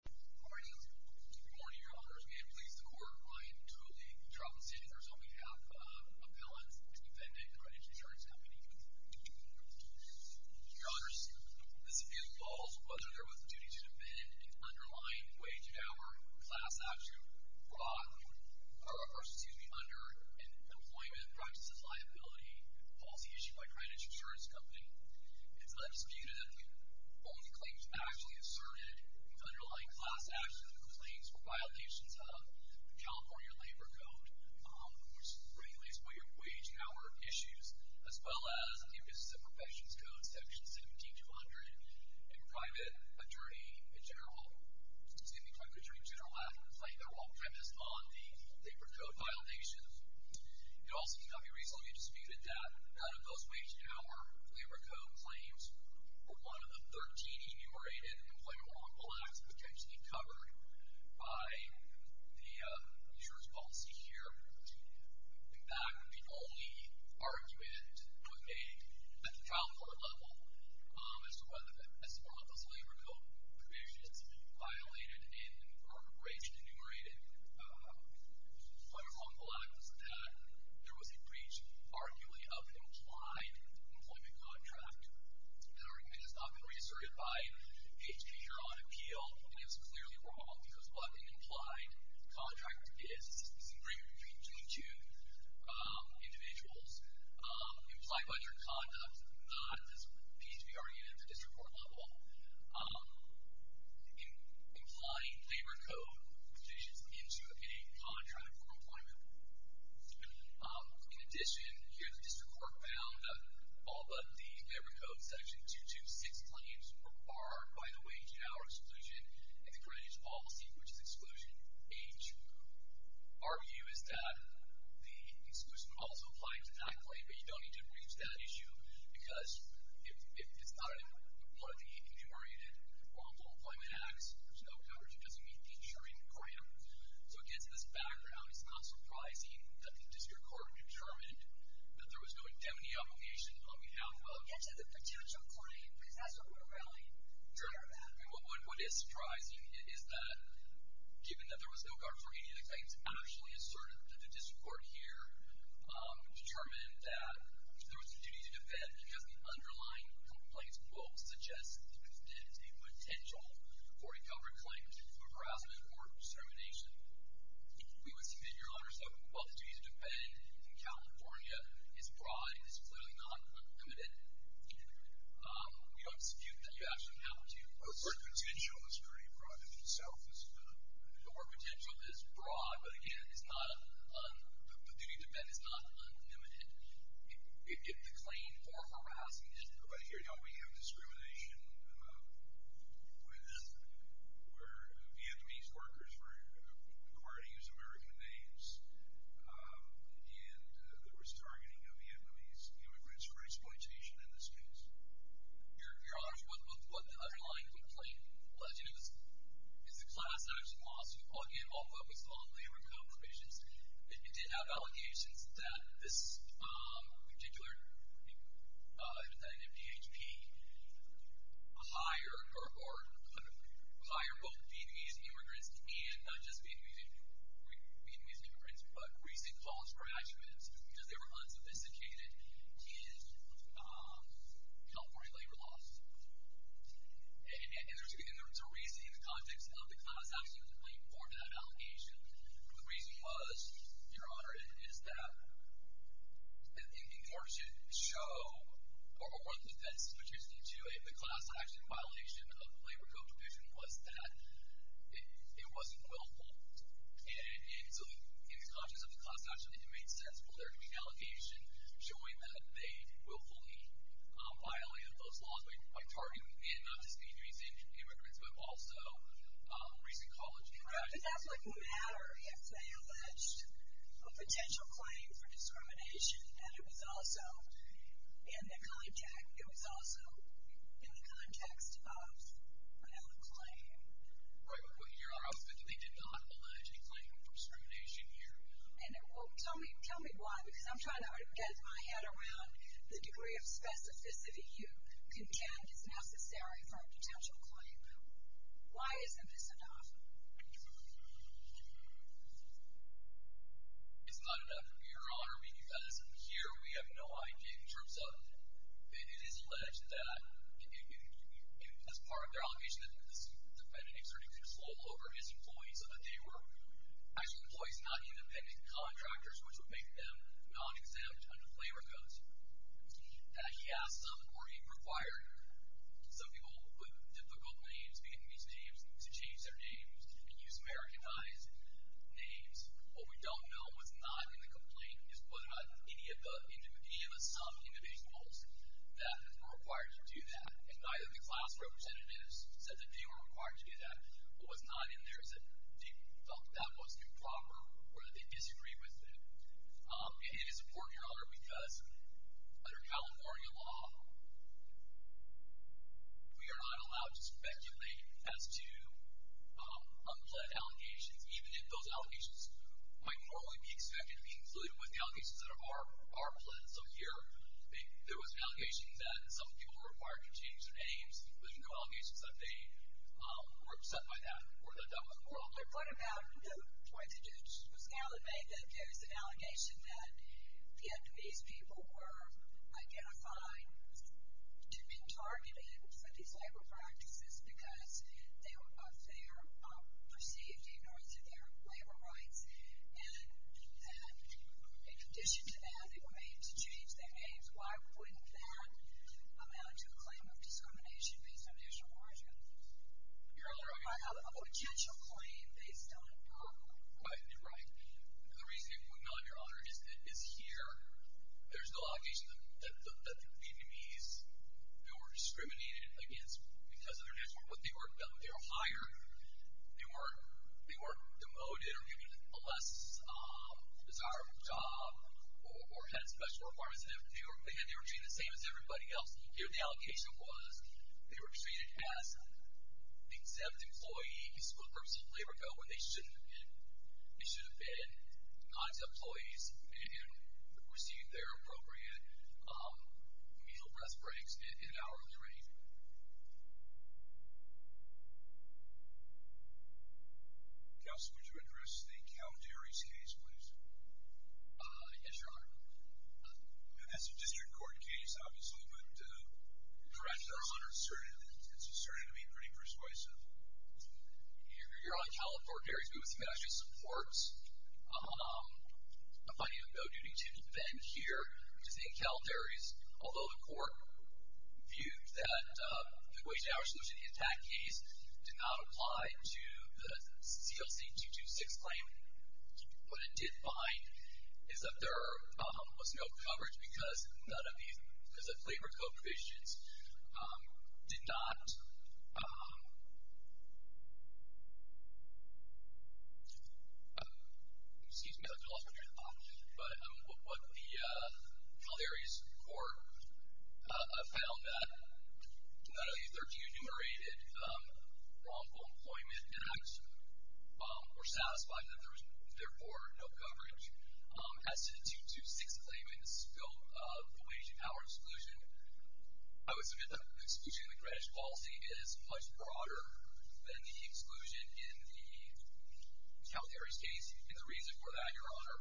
Good morning. Good morning, Your Honors. May it please the Court, I am truly troubled to say that there is only half of appellants defending Greenwich Insurance Company. Your Honors, this appeals to all, whether they are with a duty to defend an underlying wage and hour class statute brought under an employment practices liability policy issued by Greenwich Insurance Company. It is not disputed that the only claims actually asserted in the underlying class statute were violations of the California Labor Code, which is regulated by your wage and hour issues, as well as in the Offices of Professions Code, Section 17200, and private attorney in general, excuse me, private attorney in general, have complained. They're all premised on the labor code violations. It also cannot be reasonably disputed that none of those wage and hour labor code claims were one of the 13 enumerated employment lawful acts potentially covered by the insurance policy here. In fact, the only argument that was made at the trial court level as to whether, as far as those labor code violations violated in our wage enumerated lawful acts was that there was a breach, arguably, of an implied employment contract. That argument has not been reasserted by PHP here on appeal, and it is clearly wrong. Because what an implied contract is, is an agreement between two individuals, implied by their conduct, not, as PHP argued at the district court level, implying labor code violations into a contract for employment. In addition, here the district court found, all but the labor code section 226 claims were barred by the wage and hour exclusion and the creditors policy, which is exclusion H. Our view is that the exclusion also applied to that claim, but you don't need to reach that issue because if it's not one of the enumerated lawful employment acts, there's no coverage, it doesn't meet the insuring grant. So, again, to this background, it's not surprising that the district court determined that there was no indemnity obligation on behalf of... It's a potential claim, because that's what we're really concerned about. What is surprising is that, given that there was no guard for any of the claims actually asserted, the district court here determined that there was a duty to defend because the underlying complaints will suggest that there is a potential for a covered claim for harassment or discrimination. We would submit your honor, so while the duty to defend in California is broad, it's clearly not unlimited, we don't dispute that you actually have to assert... The work potential is pretty broad in itself. The work potential is broad, but again, the duty to defend is not unlimited. If the claim for harassment... But here, don't we have discrimination where Vietnamese workers require to use American names and there was targeting of Vietnamese immigrants for exploitation in this case? Your honor, what the underlying complaint alleges is a class action lawsuit, again, all focused on labor compromises. It did have allegations that this particular MDHP hired or could hire both Vietnamese immigrants and not just Vietnamese immigrants, but recent college graduates because they were unsophisticated in California labor laws. And there's a reason in the context of the class action complaint for that allegation. The reason was, your honor, is that in order to show or defend specificity to it, the class action violation of the labor competition was that it wasn't willful. And so in the context of the class action, it made sense for there to be an allegation showing that they willfully violated those laws by targeting and not just Vietnamese immigrants, but also recent college graduates. But that doesn't matter if they alleged a potential claim for discrimination and it was also in the context of another claim. Right, but your honor, they did not allege a claim for discrimination here. Well, tell me why, because I'm trying to get my head around the degree of specificity you contend is necessary for a potential claim. Why isn't this enough? It's not enough, your honor. Here we have no idea in terms of it is alleged that as part of their allegation that this defendant exerted control over his employees so that they were actual employees, not independent contractors, which would make them non-exempt under labor codes. He asked them or he required some people with difficult names, Vietnamese names, to change their names and use Americanized names. What we don't know, what's not in the complaint is what about any of the some individuals that were required to do that. And neither of the class representatives said that they were required to do that. What was not in there is that they felt that was improper or that they disagreed with it. And it is important, your honor, because under California law, we are not allowed to speculate as to unplanned allegations, even if those allegations might normally be expected to be included with the allegations that are planned. So here there was an allegation that some people were required to change their names, including the allegations that they were upset by that or that that was improper. What about the point that you just made that there's an allegation that Vietnamese people were identified and been targeted for these labor practices because they were perceived to ignore their labor rights. And in addition to that, if they were made to change their names, why wouldn't that amount to a claim of discrimination based on national origin? Your honor, I mean... A potential claim based on... Right. The reason it would not, your honor, is here there's no allegation that Vietnamese who were discriminated against because of their national origin, but they were hired, they were demoted or given a less desirable job or had special requirements. They were treated the same as everybody else. Here the allegation was they were treated as the exempt employee, these workers of labor go where they should have been, not as employees and receive their appropriate meal, breath breaks, and hourly rate. Counsel, would you address the Calderes case, please? Yes, your honor. That's a district court case, obviously, but... Correct, your honor. It's starting to be pretty persuasive. Your honor, Calderes actually supports a finding of no duty to defend here, which is in Calderes, although the court viewed that the wage and hour solution in the attack case did not apply to the CLC-226 claim. What it did find is that there was no coverage because none of these, because the labor code provisions did not... Excuse me, I lost my train of thought. But what the Calderes court found, that none of these 13 enumerated wrongful employment acts were satisfied, that there was, therefore, no coverage. As to the 226 claim and the scope of the wage and hour exclusion, I would submit that the exclusion in the Greenwich policy is much broader than the exclusion in the Calderes case. And the reason for that, your honor,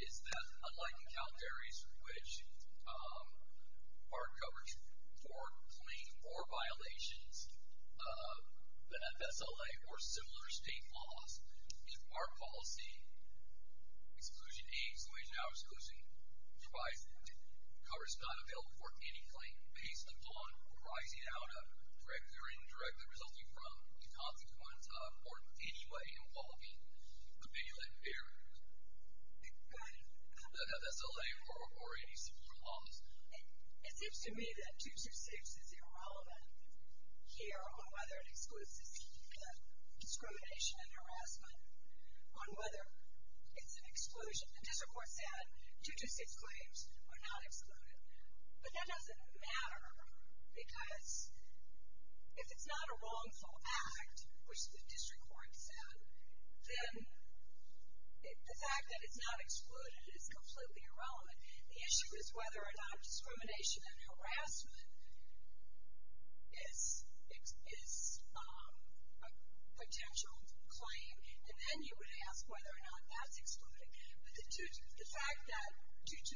is that unlike in Calderes, which our coverage for plain or violations of the FSLA or similar state laws, our policy, Exclusion A, Exclusion A, Exclusion B, provides that coverage is not available for any claim based upon arising out of, directly or indirectly resulting from, the consequence of, or in any way involving, the bail-in barriers, the FSLA or any similar laws. It seems to me that 226 is irrelevant here on whether it excludes the discrimination and harassment, on whether it's an exclusion. The district court said 226 claims are not excluded. But that doesn't matter because if it's not a wrongful act, which the district court said, then the fact that it's not excluded is completely irrelevant. The issue is whether or not discrimination and harassment is a potential claim, and then you would ask whether or not that's excluded. But the fact that 226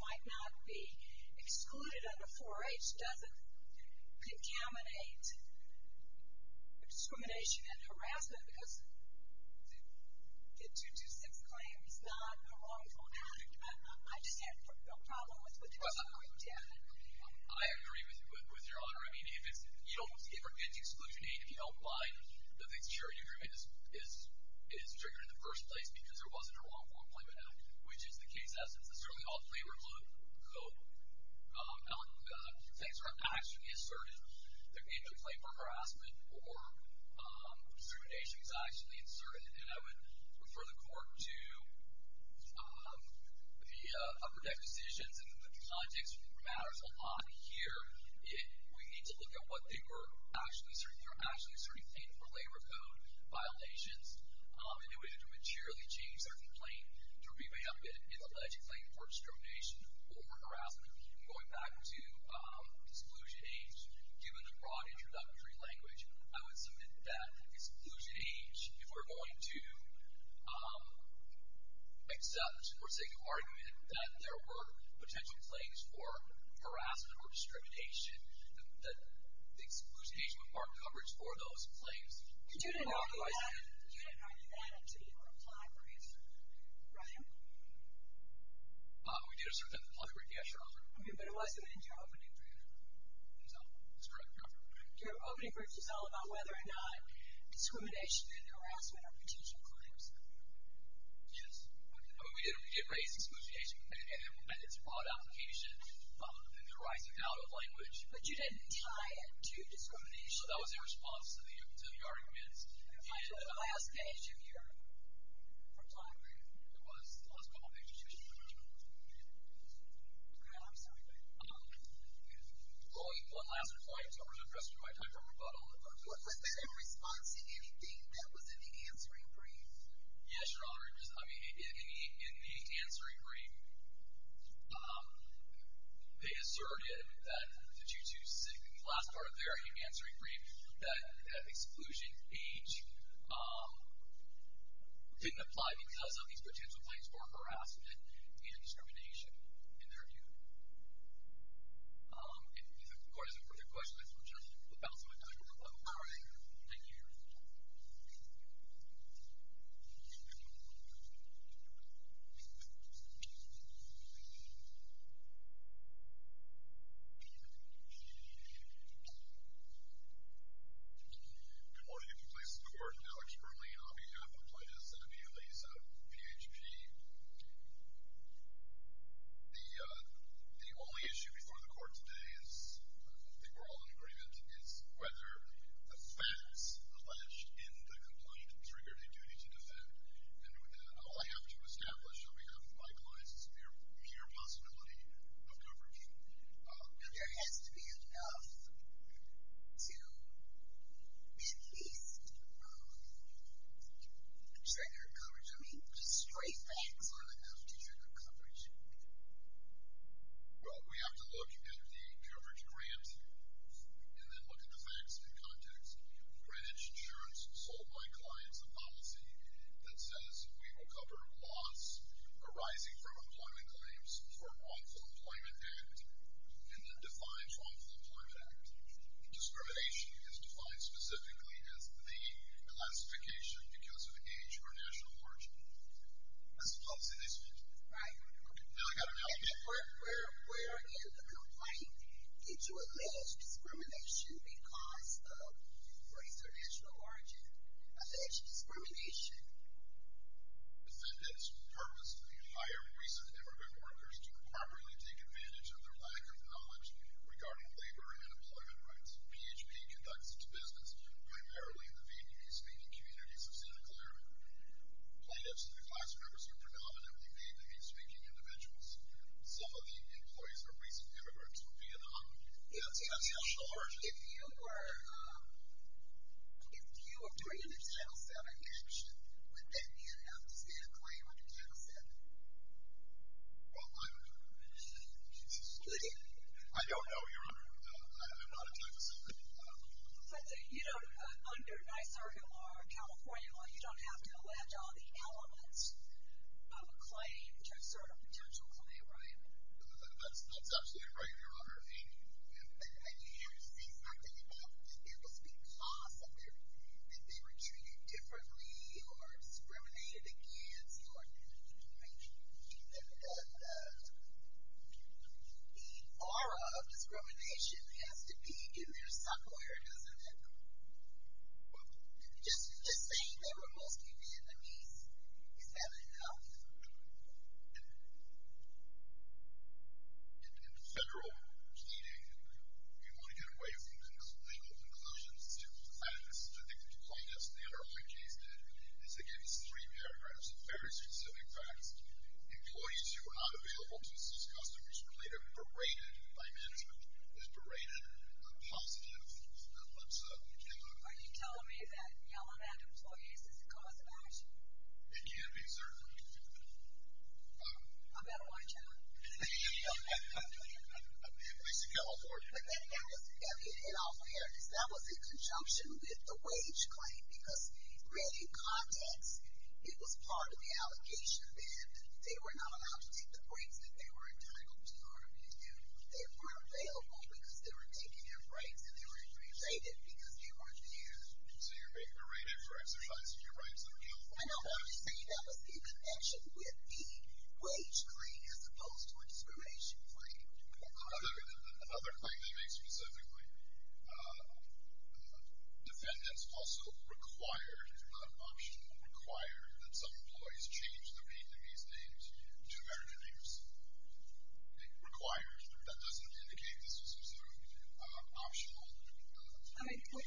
might not be excluded under 4H doesn't contaminate discrimination and harassment because the 226 claim is not a wrongful act. I just have no problem with the district court saying that. I agree with Your Honor. I mean, if it's, you don't, if it's Exclusion A, if you don't mind that the security agreement is triggered in the first place because there wasn't a wrongful employment act, which is the case as it's a certainly all-favorable code, and things are actually asserted, there may be a claim for harassment or discrimination is actually asserted, and I would refer the court to the upper deck decisions and the context matters a lot here. We need to look at what they were actually asserting. They were actually asserting painful labor code violations, and it would have to materially change their complaint to revamp it in the alleged claim for discrimination or harassment. Going back to Exclusion A, given the broad introductory language, I would submit that Exclusion H, if we're going to accept or say the argument that there were potential claims for harassment or discrimination, that Exclusion H would mark coverage for those claims. You didn't argue that until you replied for insertion, right? We did insert that in the polygraph, yes, Your Honor. Okay, but it wasn't in your opening statement. No, that's correct, Your Honor. Your opening brief was all about whether or not discrimination and harassment are potential claims. Yes, we did raise Exclusion H, and it's a broad application in the rising doubt of language. But you didn't tie it to discrimination. No, that was in response to the arguments. Until the last page of your reply brief. It was the last page of your statement. Okay, I'm sorry. Only one last point, so I'm going to trust you with my time. Was there a response to anything that was in the answering brief? Yes, Your Honor. I mean, in the answering brief, they asserted that the 226, the last part of there, in the answering brief, that Exclusion H didn't apply because of these potential claims for harassment and discrimination, in their view. If the Court has no further questions, I'm just going to bounce on my time real quick. All right. Thank you, Your Honor. Good morning. I'm going to give the place of the Court to Alex Berlin on behalf of Plaintiffs and Appealees of PHP. The only issue before the Court today is, I think we're all in agreement, is whether the facts alleged in the complaint triggered a duty to defend. And all I have to establish on behalf of my clients is mere possibility of coverage. There has to be enough to at least trigger coverage. I mean, just straight facts aren't enough to trigger coverage. Well, we have to look at the coverage grant and then look at the facts in context. Greenwich Insurance sold my clients a policy that says we will cover loss arising from employment claims for a wrongful employment act and then define wrongful employment act. Discrimination is defined specifically as the elastification because of age or national origin. That's a policy they sold. Right. Now I've got an alibi. Where in the complaint did you allege discrimination because of race or national origin? Alleged discrimination. Defendants purposefully hire recent immigrant workers to properly take advantage of their lack of knowledge regarding labor and employment rights. PHP conducts its business primarily in the Vietnamese-speaking communities of Santa Clara. Plaintiffs and the class members are predominantly Vietnamese-speaking individuals. Some of the employees are recent immigrants from Vietnam. Yes, yes. National origin. If you were doing a Title VII action, would that mean it has to be a claim under Title VII? Well, I don't know, Your Honor. I'm not a Title VII. You know, under NYSERDA law or California law, you don't have to allege all the elements of a claim to assert a potential claim, right? That's absolutely right, Your Honor. I mean, you had to say something about it was because that they were treated differently or discriminated against. The aura of discrimination has to be in there somewhere, doesn't it? Just saying that we're mostly Vietnamese, is that enough? In federal pleading, you want to get away from legal conclusions to facts. I think the plaintiffs in the underlying case did. They gave us three paragraphs of very specific facts. Employees who were not available to assist customers were later berated by management. It was berated on positive. Are you telling me that yelling at employees is a cause of action? It can be, certainly. I'm not a white challenger. At least you can't afford it. But that was in all fairness. That was in conjunction with the wage claim because really, in context, it was part of the allegation that they were not allowed to take the breaks that they were entitled to. They weren't available because they were taking their breaks and they were berated because they weren't being used. So you're being berated for exercising your rights under California law? I don't understand. That was in connection with the wage claim as opposed to expiration claim. Another claim they made specifically, defendants also required, not optional, required that some employees change their Vietnamese names to American names. They required. That doesn't indicate this was an optional. And you could combine that with the allegations of focusing on Vietnamese or Eastern immigrants to exert these employment practices. You could combine the name change with that to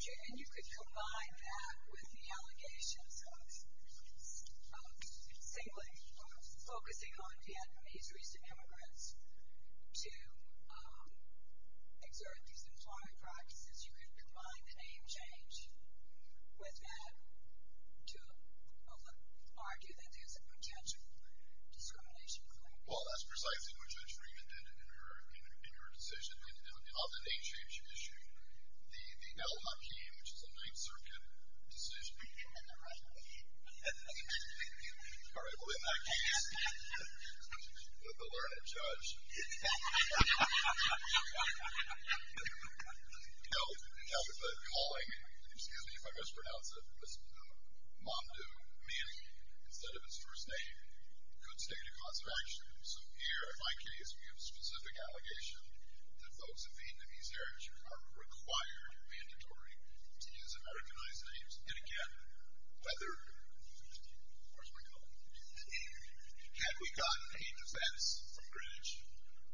argue that there's a potential discrimination claim. Well, that's precisely what Judge Freeman did in her decision. On the name change issue, the Al-Hakim, which is a Ninth Circuit decision. All right. Well, in that case, the learned judge held a calling. Excuse me if I mispronounce it. Mamdouh Manning, instead of his first name, could state a cause of action. So here, in my case, we have a specific allegation that folks of Vietnamese heritage are required, mandatory, to use Americanized names. And, again, whether, where's my colleague? Had we gotten a defense from Greenwich,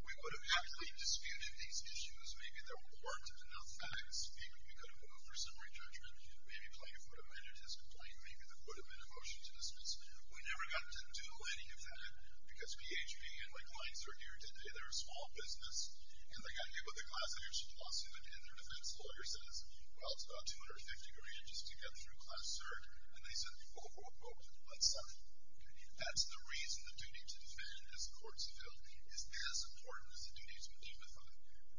we would have happily disputed these issues. Maybe there weren't enough facts. Maybe we could have moved for summary judgment. Maybe plaintiff would have ended his complaint. Maybe there would have been a motion to dismiss. We never got to do any of that because BHP and my clients are here today. They're a small business. And they got here with a class action lawsuit. And their defense lawyer says, well, it's about 250 grand just to get through class cert. And they said, quote, quote, quote, unsub. That's the reason the duty to defend as a courts of field is as important as the duty to indemnify.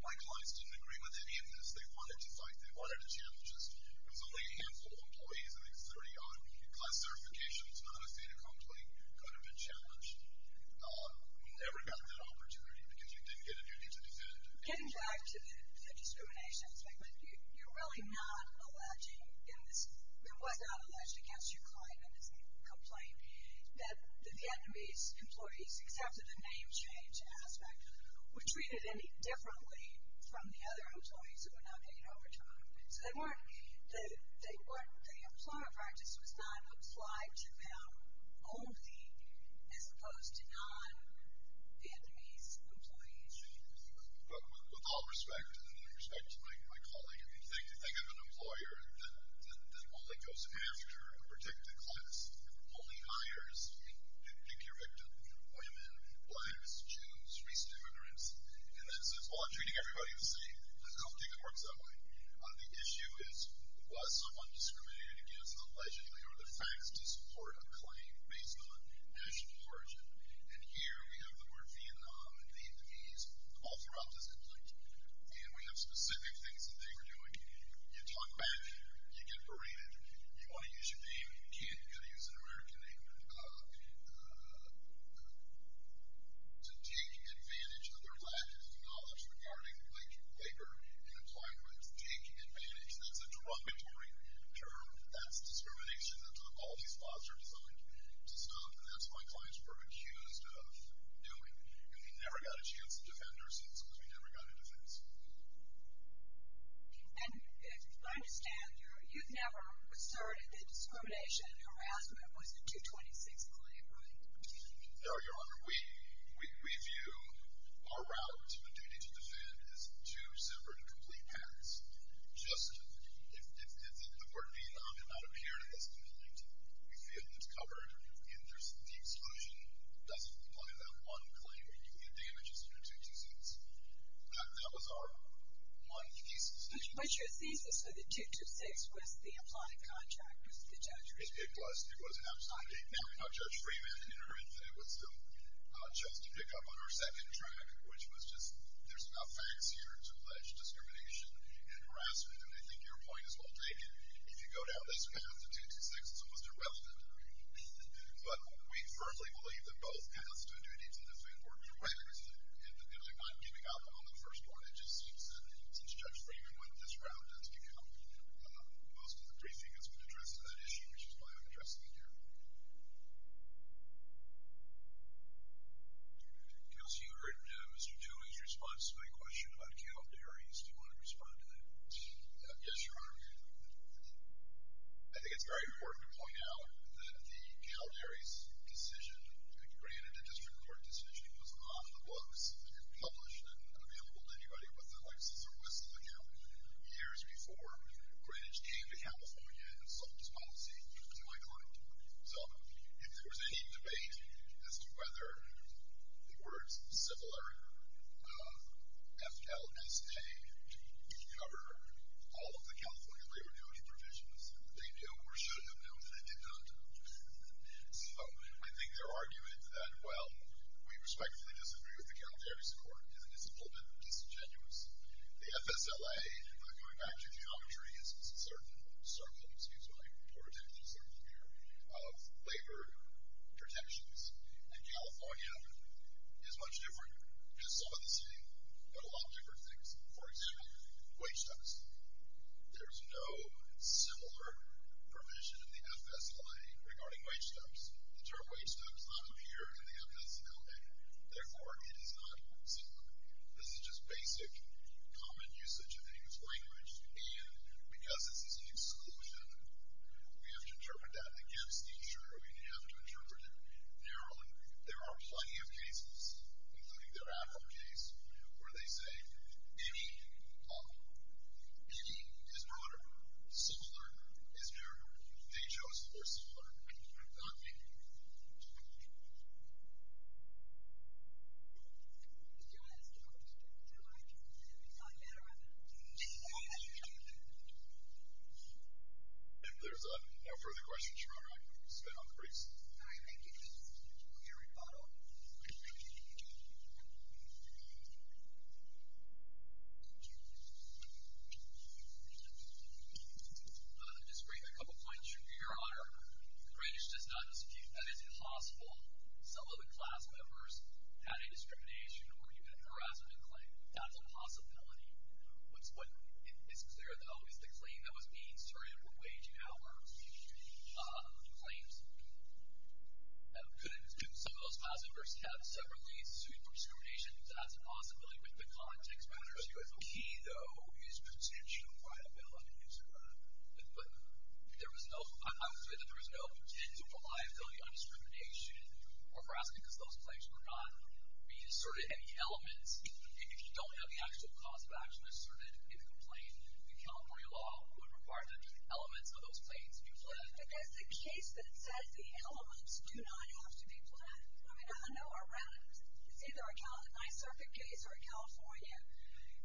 My clients didn't agree with any of this. They wanted to fight. They wanted to challenge us. It was only a handful of employees, I think 30-odd. Class certification is not a state of complaint. It could have been challenged. We never got that opportunity because you didn't get a duty to defend. Getting back to the discrimination segment, you're really not alleging in this. It was not alleged against your client in this complaint that the Vietnamese employees accepted the name change aspect were treated any differently from the other employees who were not paid overtime. So they weren't. The employment practice was not applied to them only as opposed to non-Vietnamese employees. With all respect, and in respect to my colleague, if you think of an employer that only goes after a protected class, only hires, pick your victim, women, blacks, Jews, recent immigrants, and then says, well, I'm treating everybody the same, I don't think it works that way. The issue is, was someone discriminated against to support a claim based on national origin? And here we have the word Vietnam and Vietnamese all throughout this complaint. And we have specific things that they were doing. You talk back. You get berated. You want to use your name. You can't. You've got to use an American name to take advantage of their lack of knowledge regarding labor and employment. Take advantage. That's a derogatory term. That's discrimination. That's what all these laws are designed to stop. And that's what my clients were accused of doing. And we never got a chance to defend ourselves because we never got a defense. And I understand you've never asserted that discrimination and harassment was a 226 claim, right? No, Your Honor. We view our route and duty to defend as two separate and complete paths. If the word Vietnam did not appear in this complaint, we feel it's covered. And the exclusion doesn't apply to that one claim. You can get damages under 226. That was our one thesis. What's your thesis? So the 226 was the applied contract? It was. Now Judge Freeman, in her infinite wisdom, chose to pick up on our second track, which was just there's enough facts here to allege discrimination. And harassment. And I think your point is well taken. If you go down this path, the 226 is almost irrelevant. But we firmly believe that both paths to a duty to defend were correct. And I'm not giving up on the first one. It just seems that, since Judge Freeman went this route, that's become most of the briefing that's been addressed on that issue, which is why I'm addressing it here. Kelsey, you heard Mr. Tuohy's response to my question about cattle dairies. Do you want to respond to that? Yes, Your Honor. I think it's very important to point out that the cattle dairies decision, granted a district court decision, was off the books and published and available to anybody with a Lexis or Whistler account years before Greenwich came to California and sold its policy to my client. So if there was any debate as to whether the words similar, F-L-S-A, cover all of the California labor duty provisions, they know or should have known that it did not. So I think they're arguing that, well, we respectfully disagree with the cattle dairies court, and it's a little bit disingenuous. The FSLA, going back to geometry, uses a certain circle of labor protections. And California is much different. It has some of the same, but a lot of different things. For example, wage tax. There's no similar provision in the FSLA regarding wage tax. The term wage tax does not appear in the FSLA. Therefore, it is not similar. This is just basic common usage of any of this language. And because this is an exclusion, we have to interpret that against each other. We have to interpret it their own. There are plenty of cases, including their Apple case, where they say any is broader. Similar is narrower. They chose to go similar. I'm not making this up. Do you want to ask a question, too, Mike? I'll get around to it. If there's no further questions, Your Honor, I can spin off the briefs. All right. Thank you. This is Gary Fato. I'll just bring a couple points to your Honor. Grange does not dispute that it's impossible. Some of the class members had a discrimination or even harassment claim. That's a possibility. What is clear, though, is the claim that was made, sorry, of the wage and hour claims. Some of those class members have separately sued for discrimination. That's a possibility. But the context matters here. The key, though, is potential viability. But there was no, I would say that there was no potential for liability on discrimination or harassment because those claims were not being asserted. Any elements, if you don't have the actual cause of action asserted in a complaint, in California law, would require that just elements of those claims be pledged. But that's the case that says the elements do not have to be pledged. I mean, I know around, it's either a Ninth Circuit case or a California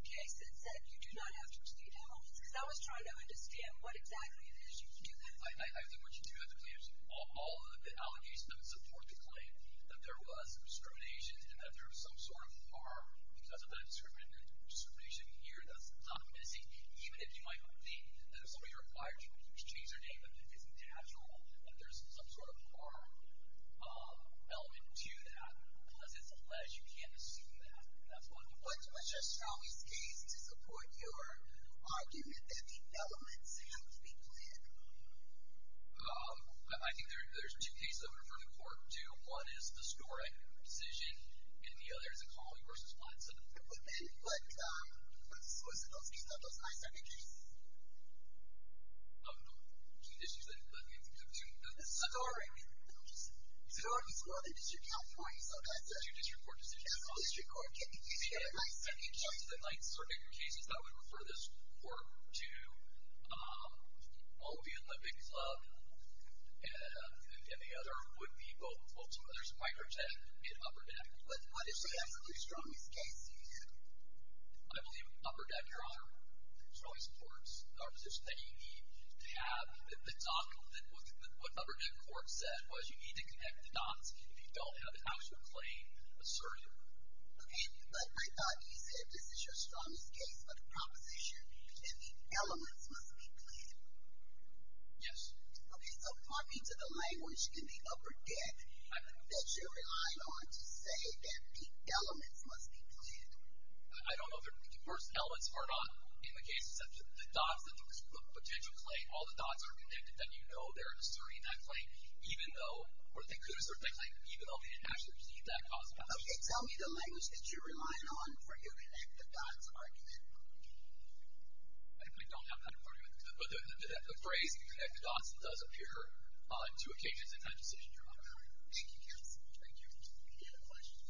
case that said you do not have to proceed to elements because I was trying to understand what exactly it is you do have to do. I think what you do have to do is all of the allegations that support the claim that there was discrimination and that there was some sort of harm because of that discrimination here, that's not missing. Even if you might think that if somebody requires you to change their name, it's natural that there's some sort of harm element to that. Unless it's alleged, you can't assume that. What's the strongest case to support your argument that the elements have to be pledged? I think there's two cases I would refer the court to. One is the Sdoric decision, and the other is the Colley v. Flats. But what's the source of those cases, those Ninth Circuit cases? The district court decision. The district court decision. If you go to the Ninth Circuit cases, I would refer this court to both the Olympic Club and the other would be both. There's Microtech and Upper Deck. What is the absolutely strongest case you view? I believe Upper Deck, Your Honor, strongly supports our position that you need to have the dock. What Upper Deck court said was you need to connect the docks. If you don't have an actual claim, assert it. Okay, but I thought you said this is your strongest case, but the proposition that the elements must be pledged. Yes. Okay, so talking to the language in the Upper Deck, that you're relying on to say that the elements must be pledged. I don't know if the first elements are not in the case, except the docks, the potential claim, all the docks are connected, then you know they're asserting that claim, even though, or they could assert that claim, even though they didn't actually receive that cause of action. Okay, tell me the language that you're relying on for your connect the docks argument. I don't have that argument, but the phrase connect the docks does appear on two occasions in that decision, Your Honor. Thank you, counsel. Thank you. Any other questions?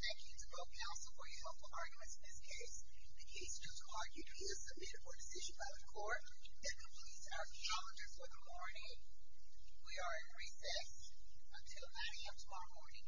Thank you to both counsel for your helpful arguments in this case. The case just argued to be a submitted court decision by the court that completes our challenges for the morning. We are in recess until 9 a.m. tomorrow morning. Thank you.